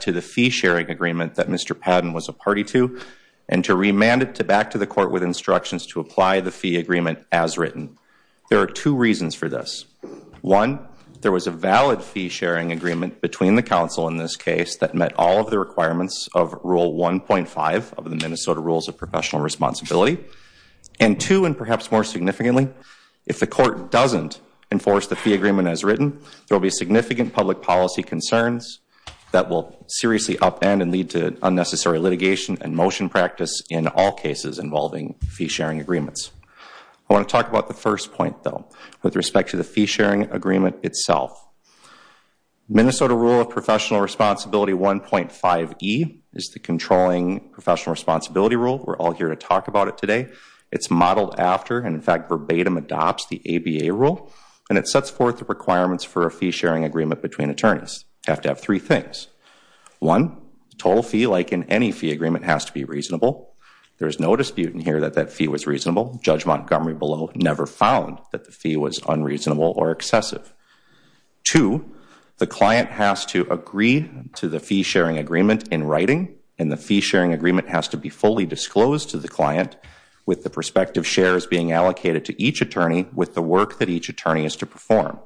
to the fee-sharing agreement that Mr. Padden was a party to and to remand it to back to the court with instructions to apply the fee agreement as written. There are two reasons for this. One, there was a valid fee-sharing agreement between the council in this case that met all of the requirements of Rule 1.5 of the Minnesota Rules of Professional Responsibility. And two, and perhaps more significantly, if the court doesn't enforce the fee agreement as written, there will be significant public policy concerns that will seriously upend and lead to unnecessary litigation and motion practice in all cases involving fee-sharing agreements. I want to talk about the first point, though, with respect to the fee-sharing agreement itself. Minnesota Rule of Professional Responsibility 1.5E is the controlling professional responsibility rule. We're all here to talk about it today. It's modeled after, and in fact, sets forth the requirements for a fee-sharing agreement between attorneys. You have to have three things. One, the total fee, like in any fee agreement, has to be reasonable. There is no dispute in here that that fee was reasonable. Judge Montgomery below never found that the fee was unreasonable or excessive. Two, the client has to agree to the fee-sharing agreement in writing, and the fee-sharing agreement has to be fully disclosed to the client with the prospective shares being allocated to each attorney with the work that each attorney is to perform.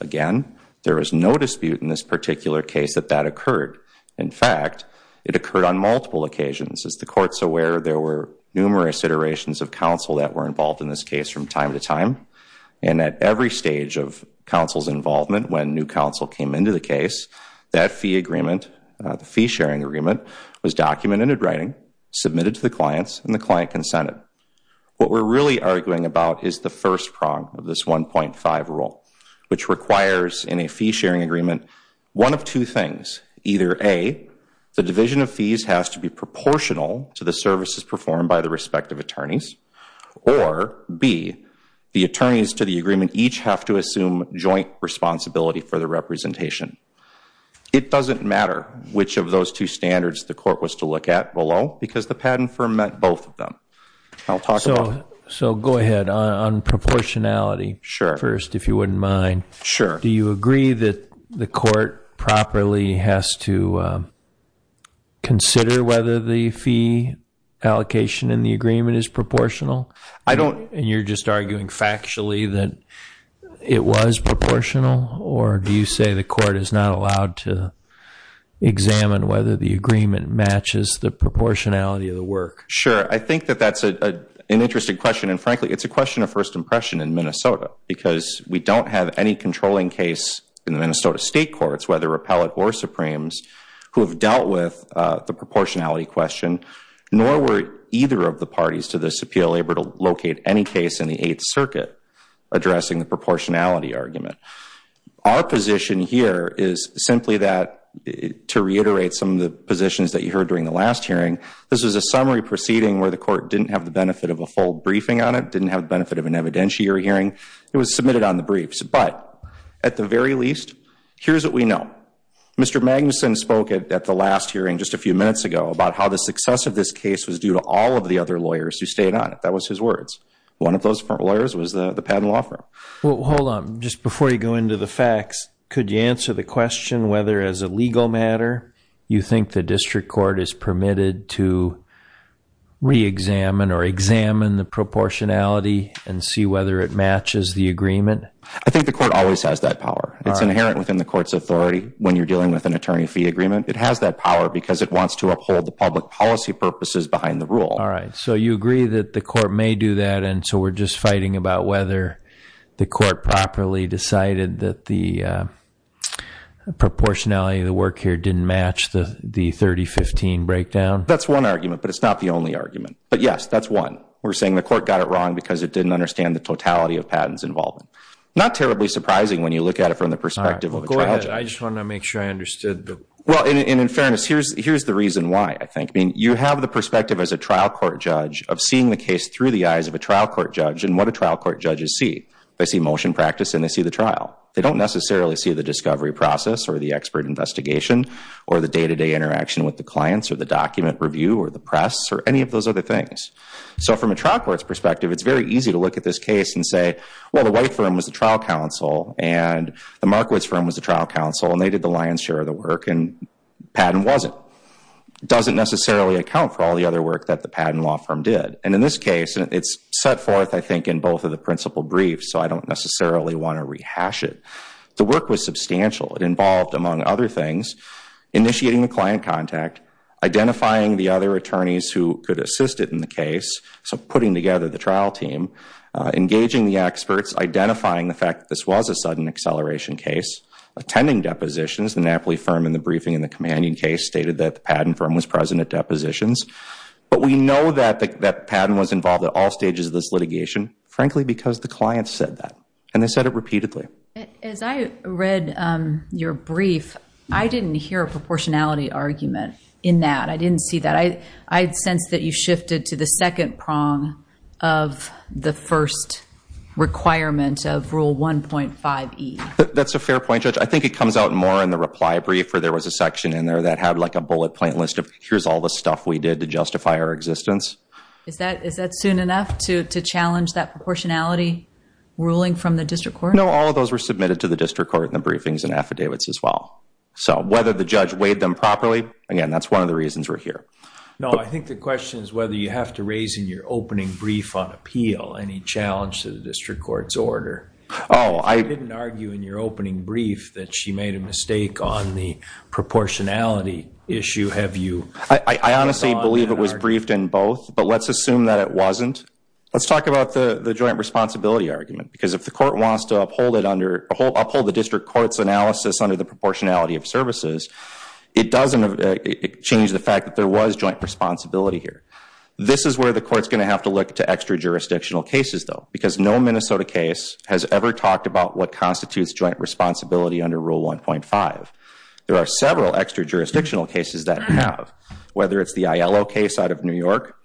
Again, there is no dispute in this particular case that that occurred. In fact, it occurred on multiple occasions. As the Court's aware, there were numerous iterations of counsel that were involved in this case from time to time, and at every stage of counsel's involvement when new counsel came into the case, that fee agreement, the fee-sharing agreement, was documented in writing, submitted to the clients, and the client consented. What we're really arguing about is the first prong of this 1.5 rule, which requires in a fee-sharing agreement one of two things. Either A, the division of fees has to be proportional to the services performed by the respective attorneys, or B, the attorneys to the agreement each have to assume joint responsibility for the representation. It doesn't matter which of those two standards the Court was to look at below, because the patent firm met both of them. I'll talk about it. So go ahead, on proportionality first, if you wouldn't mind. Do you agree that the Court properly has to consider whether the fee allocation in the agreement is proportional? And you're just arguing factually that it was proportional? Or do you say the Court is not allowed to examine whether the agreement matches the proportionality of the work? Sure. I think that that's an interesting question. And frankly, it's a question of first impression in Minnesota, because we don't have any controlling case in the Minnesota State Courts, whether repellent or Supremes, who have dealt with the proportionality question, nor were either of the parties to this appeal able to locate any case in the Eighth Circuit addressing the proportionality argument. Our position here is simply that, to reiterate some of the positions that you heard during the last hearing, this was a summary proceeding where the Court didn't have the benefit of a full briefing on it, didn't have the benefit of an evidentiary hearing. It was submitted on the briefs. But at the very least, here's what we know. Mr. Magnuson spoke at the last hearing just a few minutes ago about how the success of this case was due to all of the other lawyers who stayed on it. That was his words. One of those lawyers was the patent law firm. Well, hold on. Just before you go into the facts, could you answer the question whether as a legal matter, you think the District Court is permitted to re-examine or examine the proportionality and see whether it matches the agreement? I think the Court always has that power. It's inherent within the Court's authority when you're dealing with an attorney fee agreement. It has that power because it wants to uphold the public policy purposes behind the rule. All right. So you agree that the Court may do that, and so we're just fighting about whether the Court properly decided that the proportionality of the work here didn't match the 30-15 breakdown? That's one argument, but it's not the only argument. But yes, that's one. We're saying the Court got it wrong because it didn't understand the totality of patents involved. Not terribly surprising when you look at it from the perspective of a trial judge. All right. Go ahead. I just want to make sure I understood the... Well, and in fairness, here's the reason why, I think. I mean, you have the perspective as a trial court judge of seeing the case through the eyes of a trial court judge, and what do trial court judges see? They see motion practice and they see the trial. They don't necessarily see the discovery process or the expert investigation or the day-to-day interaction with the clients or the document review or the press or any of those other things. So from a trial court's perspective, it's very easy to look at this case and say, well, the White firm was the trial counsel and the Markowitz firm was the trial counsel, and they did the lion's share of the work, and the patent wasn't. It doesn't necessarily account for all the other work that the patent law firm did. And in this case, it's set forth, I think, in both of the principal briefs, so I don't necessarily want to rehash it. The work was substantial. It involved, among other things, initiating the client contact, identifying the other attorneys who could assist it in the case, so putting together the trial team, engaging the experts, identifying the fact that this was a sudden acceleration case, attending depositions. The Napoli firm in the briefing in the commanding case stated that the patent firm was present at depositions. But we know that the patent was involved at all stages of this litigation, frankly, because the client said that, and they said it repeatedly. As I read your brief, I didn't hear a proportionality argument in that. I didn't see that. I sensed that you shifted to the second prong of the first requirement of Rule 1.5e. That's a fair point, Judge. I think it comes out more in the reply brief where there was a section in there that had like a bullet point list of here's all the stuff we did to justify our existence. Is that soon enough to challenge that proportionality ruling from the district court? No, all of those were submitted to the district court in the briefings and affidavits as well. So whether the judge weighed them properly, again, that's one of the reasons we're here. No, I think the question is whether you have to raise in your opening brief on appeal any challenge to the district court's order. Oh, I— You didn't argue in your opening brief that she made a mistake on the proportionality issue. Have you— I honestly believe it was briefed in both, but let's assume that it wasn't. Let's talk about the joint responsibility argument, because if the court wants to uphold it under— uphold the district court's analysis under the proportionality of services, it doesn't change the fact that there was joint responsibility here. This is where the court's going to have to look to extra-jurisdictional cases, though, because no Minnesota case has ever talked about what constitutes joint responsibility under Rule 1.5. There are several extra-jurisdictional cases that have, whether it's the Aiello case out of New York,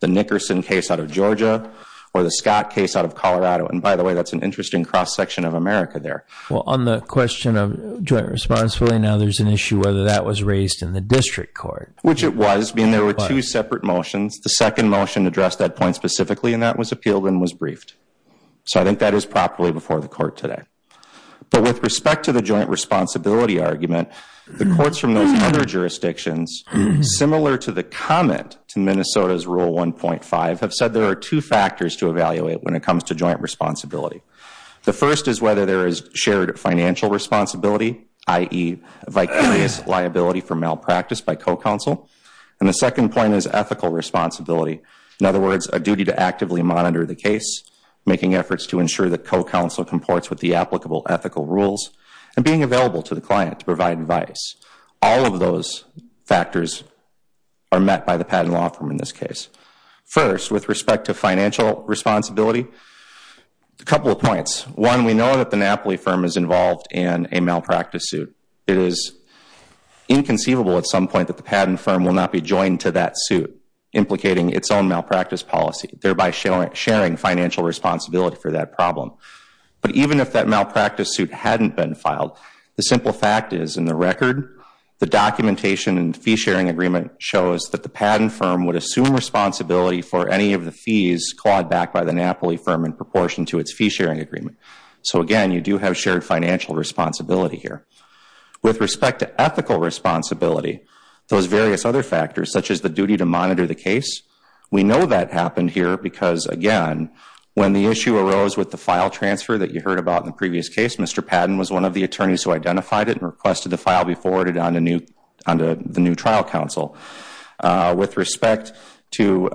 the Nickerson case out of Georgia, or the Scott case out of Colorado. And by the way, that's an interesting cross-section of America there. Well, on the question of joint responsibility now, there's an issue whether that was raised in the district court. Which it was, being there were two separate motions. The second motion addressed that point specifically, and that was appealed and was briefed. So I think that is properly before the court today. But with respect to the joint responsibility argument, the courts from those other jurisdictions, similar to the comment to Minnesota's Rule 1.5, have said there are two factors to evaluate when it comes to joint responsibility. The first is whether there is shared financial responsibility, i.e., vicarious liability for malpractice by co-counsel. And the second point is ethical responsibility. In other words, a duty to actively monitor the case, making efforts to ensure that co-counsel comports with the applicable ethical rules, and being available to the client to provide advice. All of those factors are met by the patent law firm in this case. First, with respect to financial responsibility, a couple of points. One, we know that the Napoli firm is involved in a malpractice suit. It is inconceivable at some point that the patent firm will not be joined to that suit, implicating its own malpractice policy, thereby sharing financial responsibility for that problem. But even if that malpractice suit hadn't been filed, the simple fact is, in the record, the documentation and fee-sharing agreement shows that the patent firm would assume responsibility for any of the fees clawed back by the Napoli firm in proportion to its fee-sharing agreement. So again, you do have shared financial responsibility here. With respect to ethical responsibility, those various other factors, such as the duty to monitor the case, we know that happened here because, again, when the issue arose with the file transfer that you heard about in the previous case, Mr. Padden was one of the attorneys who identified it and requested the file be forwarded on to the new trial counsel. With respect to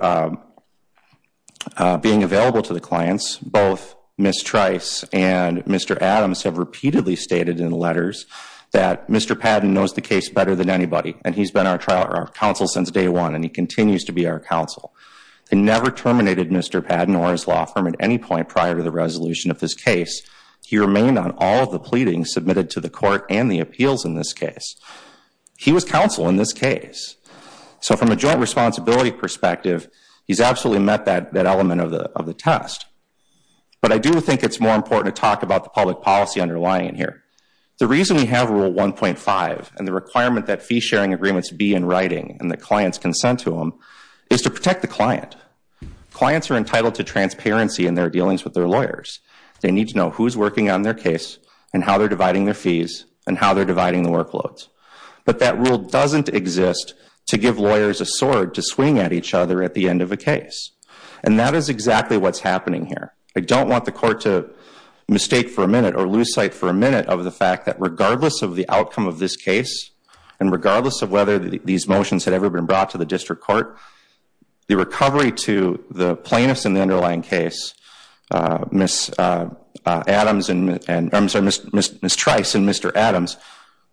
being available to the clients, both Ms. Trice and Mr. Adams have repeatedly stated in letters that Mr. Padden knows the case better than anybody, and he's been our trial counsel since day one, and he continues to be our counsel. They never terminated Mr. Padden or his law firm at any point prior to the resolution of this case. He remained on all of the pleadings submitted to the court and the appeals in this case. He was counsel in this case. So from a joint responsibility perspective, he's absolutely met that element of the test. But I do think it's more important to talk about the public policy underlying it here. The reason we have Rule 1.5 and the requirement that fee-sharing agreements be in writing and that clients consent to them is to protect the client. Clients are entitled to transparency in their dealings with their lawyers. They need to know who's working on their case and how they're dividing their fees and how they're dividing the workloads. But that rule doesn't exist to give lawyers a sword to swing at each other at the end of a case. And that is exactly what's happening here. I don't want the court to mistake for a minute or lose sight for a minute of the fact that these motions had ever been brought to the district court. The recovery to the plaintiffs in the underlying case, Ms. Trice and Mr. Adams,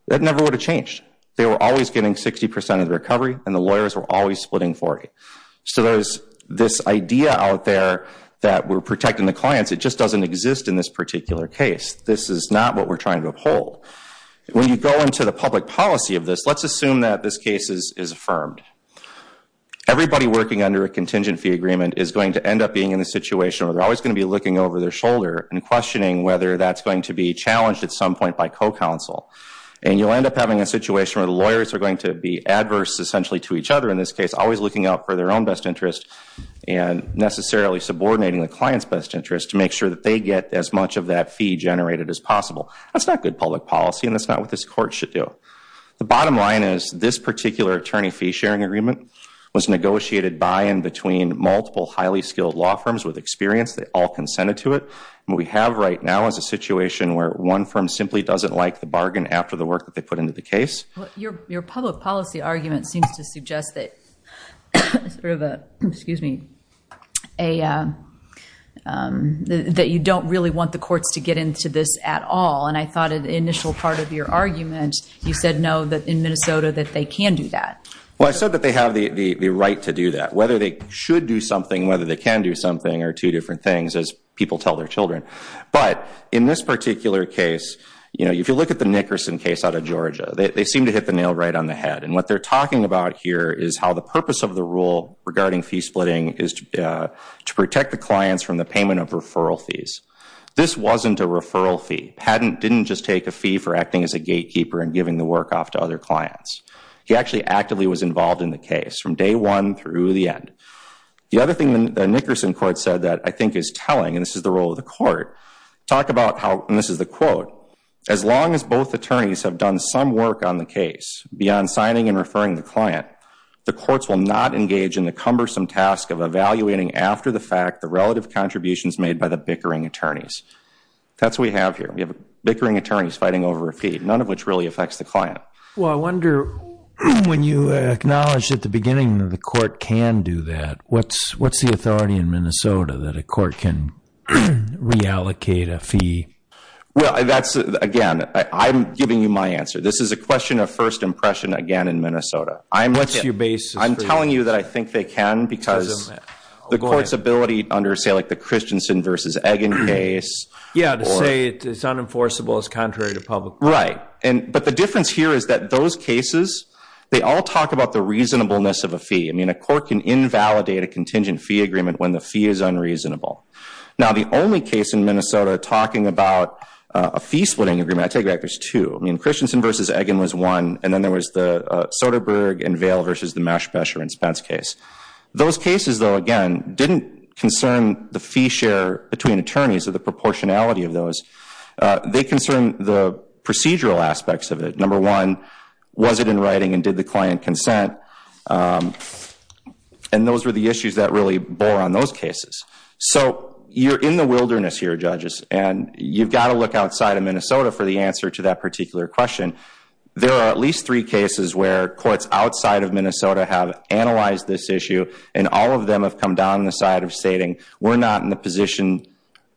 that never would have changed. They were always getting 60% of the recovery and the lawyers were always splitting 40. So there's this idea out there that we're protecting the clients. It just doesn't exist in this particular case. This is not what we're trying to uphold. When you go into the public policy of this, let's assume that this case is affirmed. Everybody working under a contingent fee agreement is going to end up being in a situation where they're always going to be looking over their shoulder and questioning whether that's going to be challenged at some point by co-counsel. And you'll end up having a situation where the lawyers are going to be adverse essentially to each other in this case, always looking out for their own best interest and necessarily subordinating the client's best interest to make sure that they get as much of that fee generated as possible. That's not good public policy and that's not what this court should do. The bottom line is this particular attorney fee sharing agreement was negotiated by and between multiple highly skilled law firms with experience. They all consented to it. What we have right now is a situation where one firm simply doesn't like the bargain after the work that they put into the case. Your public policy argument seems to suggest that you don't really want the courts to get into this at all. And I thought in the initial part of your argument, you said no, that in Minnesota that they can do that. Well, I said that they have the right to do that. Whether they should do something, whether they can do something are two different things as people tell their children. But in this particular case, you know, if you look at the Nickerson case out of Georgia, they seem to hit the nail right on the head. And what they're talking about here is how the purpose of the rule regarding fee splitting is to protect the clients from the payment of referral fees. This wasn't a referral fee. Patent didn't just take a fee for acting as a gatekeeper and giving the work off to other clients. He actually actively was involved in the case from day one through the end. The other thing the Nickerson court said that I think is telling, and this is the role of the court, talk about how, and this is the quote, as long as both attorneys have done some work on the case beyond signing and referring the client, the courts will not engage in the cumbersome task of evaluating after the fact the relative contributions made by the bickering attorneys. That's what we have here. We have bickering attorneys fighting over a fee, none of which really affects the client. Well, I wonder when you acknowledged at the beginning that the court can do that, what's the authority in Minnesota that a court can reallocate a fee? Well, that's again, I'm giving you my answer. This is a question of first impression again in Minnesota. What's your basis? I'm telling you that I think they can because the court's ability under say like the Christensen versus Egan case. Yeah, to say it's unenforceable is contrary to public law. Right. But the difference here is that those cases, they all talk about the reasonableness of a fee. I mean, a court can invalidate a contingent fee agreement when the fee is unreasonable. Now the only case in Minnesota talking about a fee splitting agreement, I take back, there's two. I mean, Christensen versus Egan was one, and then there was the Soderberg and Vail versus the Meshbacher and Spence case. Those cases though, again, didn't concern the fee share between attorneys or the proportionality of those. They concern the procedural aspects of it. Number one, was it in writing and did the client consent? And those were the issues that really bore on those cases. So you're in the wilderness here, judges, and you've got to look outside of Minnesota for the answer to that particular question. There are at least three cases where courts outside of Minnesota have analyzed this issue and all of them have come down the side of stating, we're not in the position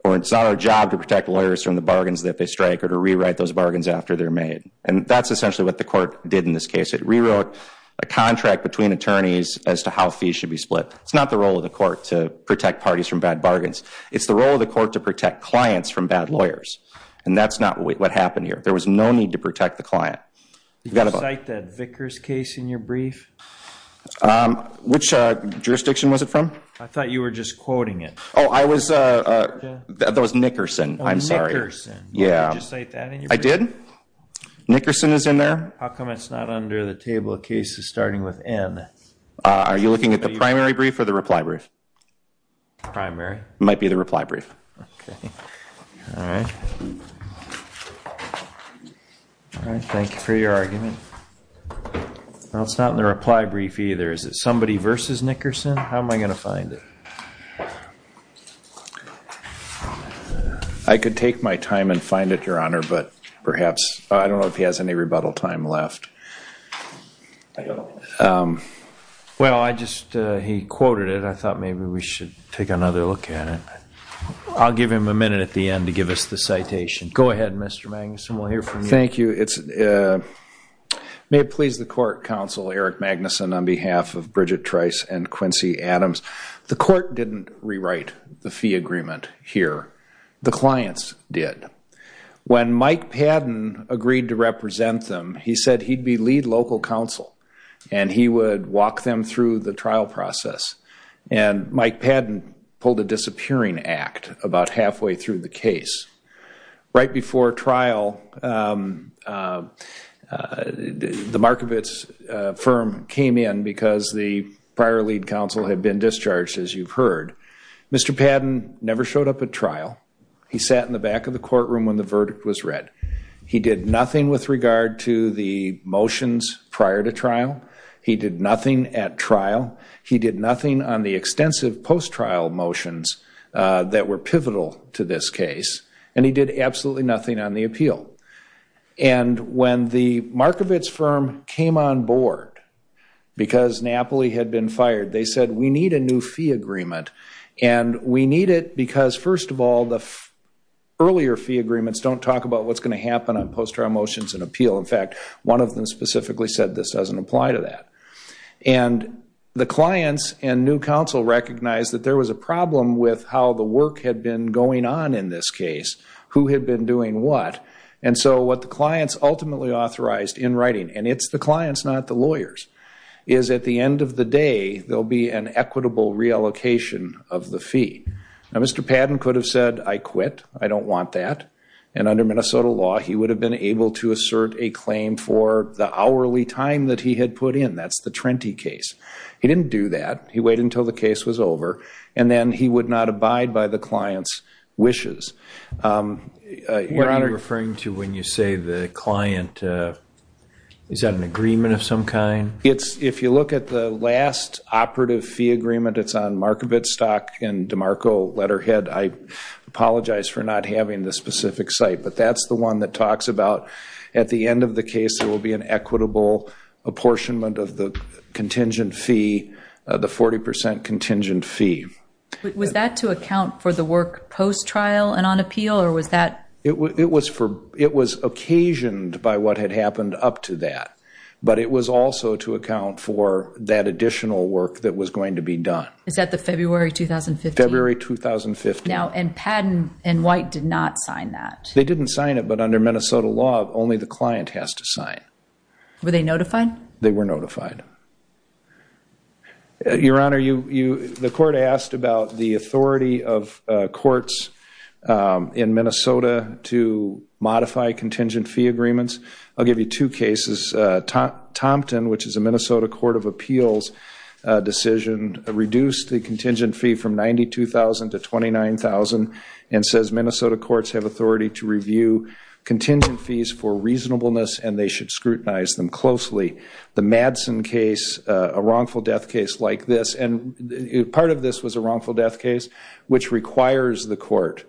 or it's not our job to protect lawyers from the bargains that they strike or to rewrite those bargains after they're made. And that's essentially what the court did in this case. It rewrote a contract between attorneys as to how fees should be split. It's not the role of the court to protect parties from bad bargains. It's the role of the court to protect clients from bad lawyers. And that's not what happened here. There was no need to protect the client. Did you cite that Vickers case in your brief? Which jurisdiction was it from? I thought you were just quoting it. Oh, that was Nickerson. I'm sorry. Oh, Nickerson. Yeah. Did you just cite that in your brief? I did. Nickerson is in there. How come it's not under the table of cases starting with N? Are you looking at the primary brief or the reply brief? Primary. Might be the reply brief. OK. All right. Thank you for your argument. Well, it's not in the reply brief either. Is it somebody versus Nickerson? How am I going to find it? I could take my time and find it, Your Honor. But perhaps, I don't know if he has any rebuttal time left. Well, I just, he quoted it. I thought maybe we should take another look at it. I'll give him a minute at the end to give us the citation. Go ahead, Mr. Magnuson. We'll hear from you. Thank you. May it please the court, Counsel Eric Magnuson, on behalf of Bridget Trice and Quincy Adams. The court didn't rewrite the fee agreement here. The clients did. When Mike Padden agreed to represent them, he said he'd be lead local counsel and he would walk them through the trial process. And Mike Padden pulled a disappearing act about halfway through the case. Right before trial, the Markovits firm came in because the prior lead counsel had been discharged, as you've heard. Mr. Padden never showed up at trial. He sat in the back of the courtroom when the verdict was read. He did nothing with regard to the motions prior to trial. He did nothing at trial. He did nothing on the extensive post-trial motions that were pivotal to this case. And he did absolutely nothing on the appeal. And when the Markovits firm came on board because Napoli had been fired, they said we need a new fee agreement. And we need it because, first of all, the earlier fee agreements don't talk about what's going to happen on post-trial motions and appeal. In fact, one of them specifically said this doesn't apply to that. And the clients and new counsel recognized that there was a problem with how the work had been going on in this case, who had been doing what. And so what the clients ultimately authorized in writing, and it's the clients, not the lawyers, is at the end of the day, there'll be an equitable reallocation of the fee. Now, Mr. Padden could have said, I quit. I don't want that. And under Minnesota law, he would have been able to assert a claim for the hourly time that he had put in. That's the Trenti case. He didn't do that. He waited until the case was over. And then he would not abide by the client's wishes. What are you referring to when you say the client? Is that an agreement of some kind? If you look at the last operative fee agreement, it's on Markovit stock and DeMarco letterhead. I apologize for not having the specific site. But that's the one that talks about at the end of the case, there will be an equitable apportionment of the contingent fee, the 40% contingent fee. Was that to account for the work post-trial and on appeal? Or was that? It was occasioned by what had happened up to that. But it was also to account for that additional work that was going to be done. Is that the February 2015? February 2015. Now, and Padden and White did not sign that. They didn't sign it. But under Minnesota law, only the client has to sign. Were they notified? They were notified. Your Honor, the court asked about the authority of courts in Minnesota to modify contingent fee agreements. I'll give you two cases. Thompson, which is a Minnesota Court of Appeals decision, reduced the contingent fee from $92,000 to $29,000 and says Minnesota courts have authority to review contingent fees for reasonableness and they should scrutinize them closely. The Madsen case, a wrongful death case like this. And part of this was a wrongful death case, which requires the court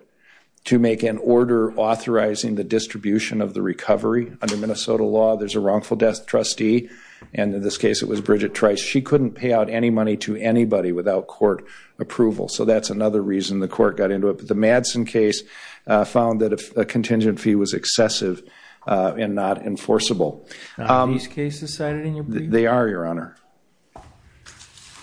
to make an order authorizing the distribution of the recovery. Under Minnesota law, there's a wrongful death trustee. And in this case, it was Bridget Trice. She couldn't pay out any money to anybody without court approval. So that's another reason the court got into it. But the Madsen case found that a contingent fee was excessive and not enforceable. Are these cases cited in your brief? They are, Your Honor.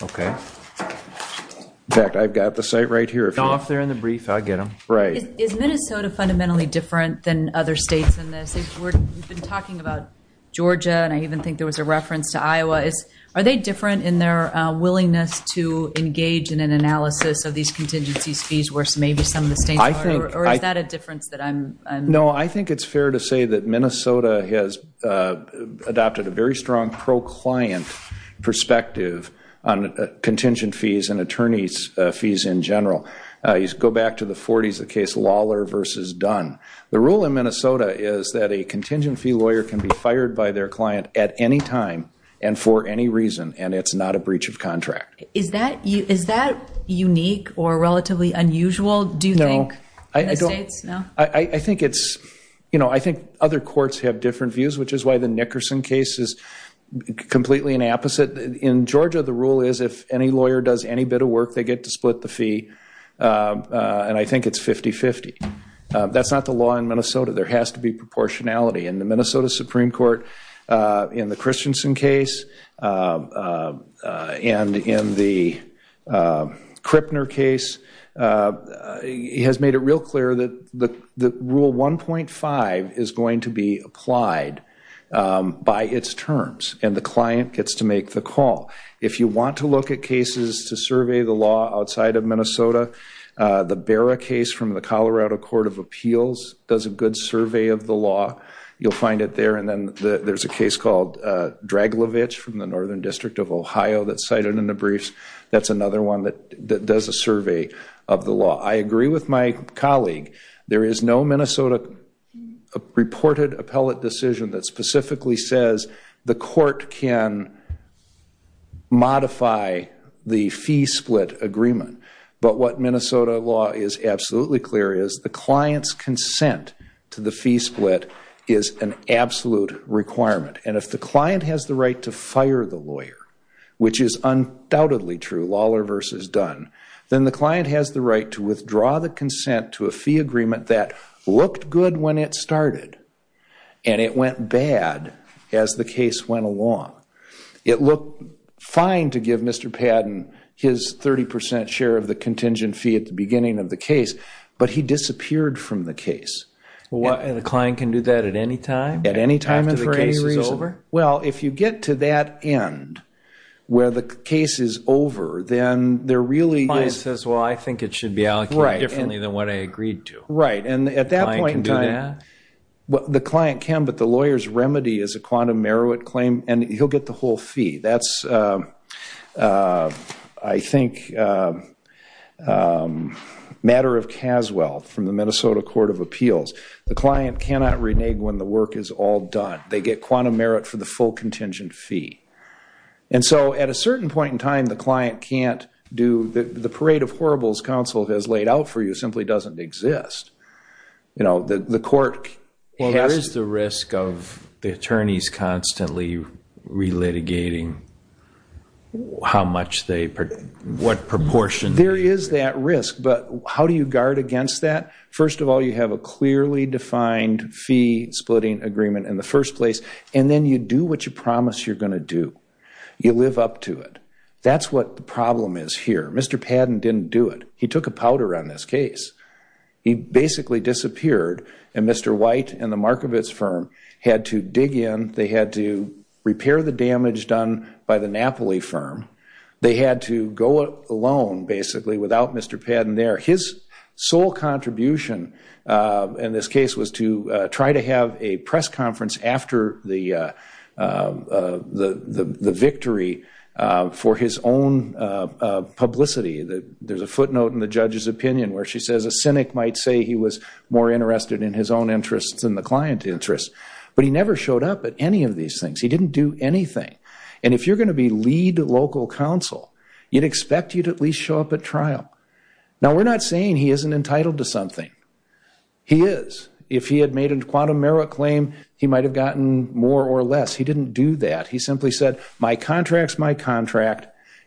OK. In fact, I've got the site right here. If they're not there in the brief, I'll get them. Right. Is Minnesota fundamentally different than other states in this? We've been talking about Georgia and I even think there was a reference to Iowa. Are they different in their willingness to engage in an analysis of these contingency fees where maybe some of the states aren't? Or is that a difference that I'm? No, I think it's fair to say that Minnesota has adopted a very strong pro-client perspective on contingent fees and attorney's fees in general. You go back to the 40s, the case Lawler versus Dunn. The rule in Minnesota is that a contingent fee lawyer can be fired by their client at any time and for any reason. And it's not a breach of contract. Is that unique or relatively unusual, do you think, in the states? I think other courts have different views, which is why the Nickerson case is completely an opposite. In Georgia, the rule is if any lawyer does any bit of work, they get to split the fee. And I think it's 50-50. That's not the law in Minnesota. There has to be proportionality. In the Minnesota Supreme Court, in the Christensen case, and in the Krippner case, he has made it real clear that rule 1.5 is going to be applied by its terms. And the client gets to make the call. If you want to look at cases to survey the law outside of Minnesota, the Barra case from the Colorado Court of Appeals does a good survey of the law. You'll find it there. And then there's a case called Draglovich from the Northern District of Ohio that's cited in the briefs. That's another one that does a survey of the law. I agree with my colleague. There is no Minnesota reported appellate decision that specifically says the court can modify the fee split agreement. But what Minnesota law is absolutely clear is the client's consent to the fee split is an absolute requirement. And if the client has the right to fire the lawyer, which is undoubtedly true, lawler versus Dunn, then the client has the right to withdraw the consent to a fee agreement that looked good when it started and it went bad as the case went along. It looked fine to give Mr. Padden his 30% share of the contingent fee at the beginning of the case, but he disappeared from the case. And the client can do that at any time? At any time and for any reason? Well, if you get to that end where the case is over, then there really is. The client says, well, I think it should be allocated differently than what I agreed to. Right. And at that point in time, the client can. But the lawyer's remedy is a quantum merit claim. And he'll get the whole fee. That's, I think, a matter of Caswell from the Minnesota Court of Appeals. The client cannot renege when the work is all done. They get quantum merit for the full contingent fee. And so at a certain point in time, the client can't do the parade of horribles counsel has laid out for you simply doesn't exist. The court has to. Well, there is the risk of the attorneys constantly relitigating how much they, what proportion. There is that risk. But how do you guard against that? First of all, you have a clearly defined fee splitting agreement in the first place. And then you do what you promise you're going to do. You live up to it. That's what the problem is here. Mr. Padden didn't do it. He took a powder on this case. He basically disappeared. And Mr. White and the Markovits firm had to dig in. They had to repair the damage done by the Napoli firm. They had to go alone, basically, without Mr. Padden there. His sole contribution in this case was to try to have a press conference after the victory for his own publicity. There's a footnote in the judge's opinion where she says a cynic might say he was more interested in his own interests than the client interests. But he never showed up at any of these things. He didn't do anything. And if you're going to be lead local counsel, you'd expect you to at least show up at trial. Now, we're not saying he isn't entitled to something. He is. If he had made a quantum merit claim, he might have gotten more or less. He didn't do that. He simply said, my contract's my contract,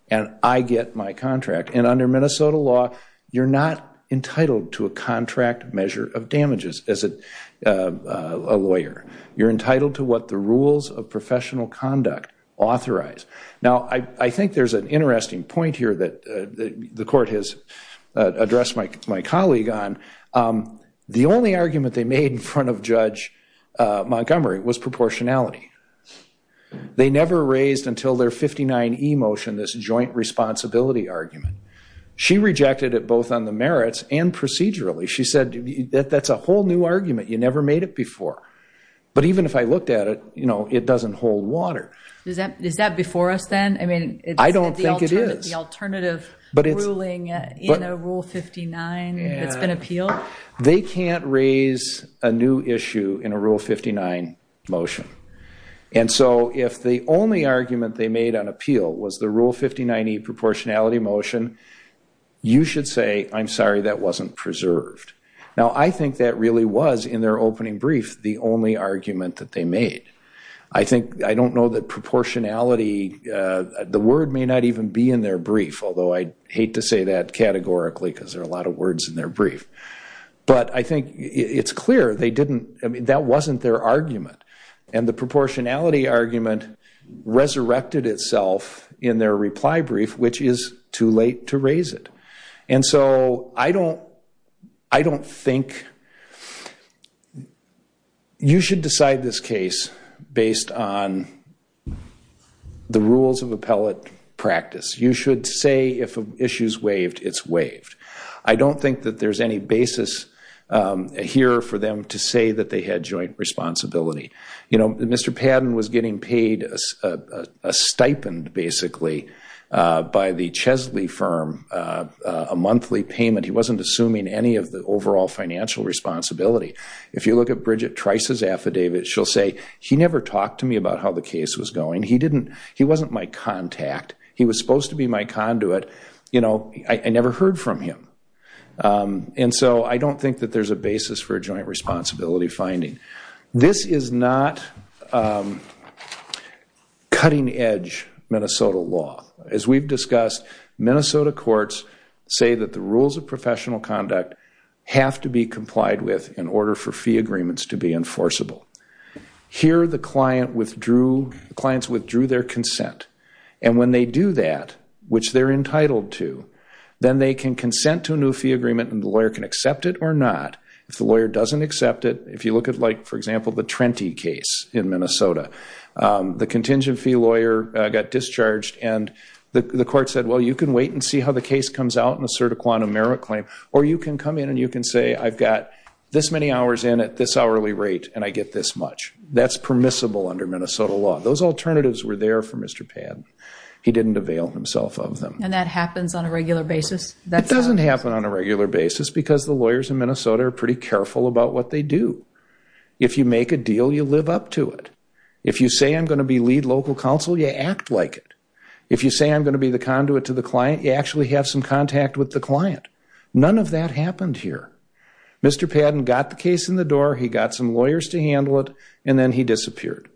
and I get my contract. And under Minnesota law, you're not entitled to a contract measure of damages as a lawyer. You're entitled to what the rules of professional conduct authorize. Now, I think there's an interesting point here that the court has addressed my colleague on. The only argument they made in front of Judge Montgomery was proportionality. They never raised until their 59e motion this joint responsibility argument. She rejected it both on the merits and procedurally. She said, that's a whole new argument. You never made it before. But even if I looked at it, it doesn't hold water. Is that before us, then? I don't think it is. The alternative ruling in Rule 59 that's been appealed? They can't raise a new issue in a Rule 59 motion. And so if the only argument they made on appeal was the Rule 59e proportionality motion, you should say, I'm sorry, that wasn't preserved. Now, I think that really was, in their opening brief, the only argument that they made. I think I don't know that proportionality, the word may not even be in their brief, although I hate to say that categorically, because there are a lot of words in their brief. But I think it's clear they didn't. That wasn't their argument. And the proportionality argument resurrected itself in their reply brief, which is too late to raise it. And so I don't think you should decide this case based on the rules of appellate practice. You should say, if an issue's waived, it's waived. I don't think that there's any basis here for them to say that they had joint responsibility. Mr. Padden was getting paid a stipend, basically, by the Chesley firm, a monthly payment. He wasn't assuming any of the overall financial responsibility. If you look at Bridget Trice's affidavit, she'll say, he never talked to me about how the case was going. He wasn't my contact. He was supposed to be my conduit. I never heard from him. And so I don't think that there's a basis for a joint responsibility finding. This is not cutting edge Minnesota law. As we've discussed, Minnesota courts say that the rules of professional conduct have to be complied with in order for fee agreements to be enforceable. Here, the clients withdrew their consent. And when they do that, which they're entitled to, then they can consent to a new fee agreement and the lawyer can accept it or not. If the lawyer doesn't accept it, if you look at, for example, the Trenti case in Minnesota, the contingent fee lawyer got discharged. And the court said, well, you can wait and see how the case comes out and assert a quantum merit claim. Or you can come in and you can say, I've got this many hours in at this hourly rate, and I get this much. That's permissible under Minnesota law. Those alternatives were there for Mr. Padden. He didn't avail himself of them. And that happens on a regular basis? That doesn't happen on a regular basis because the lawyers in Minnesota are pretty careful about what they do. If you make a deal, you live up to it. If you say, I'm going to be lead local counsel, you act like it. If you say, I'm going to be the conduit to the client, you actually have some contact with the client. None of that happened here. Mr. Padden got the case in the door, he got some lawyers to handle it, and then he disappeared.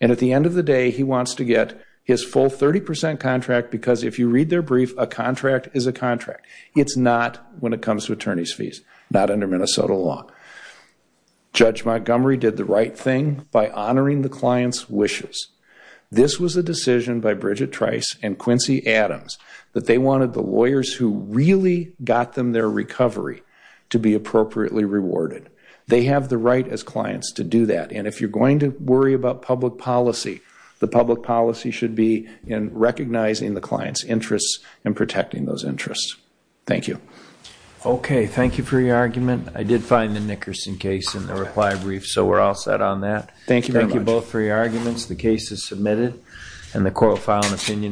And at the end of the day, he wants to get his full 30% contract, because if you read their brief, a contract is a contract. It's not when it comes to attorney's fees, not under Minnesota law. Judge Montgomery did the right thing by honoring the client's wishes. This was a decision by Bridget Trice and Quincy Adams that they wanted the lawyers who really got them their recovery to be appropriately rewarded. They have the right as clients to do that. And if you're going to worry about public policy, the public policy should be in recognizing the client's interests and protecting those interests. Thank you. OK, thank you for your argument. I did find the Nickerson case in the reply brief, so we're all set on that. Thank you very much. Thank you both for your arguments. The case is submitted, and the court will file an opinion.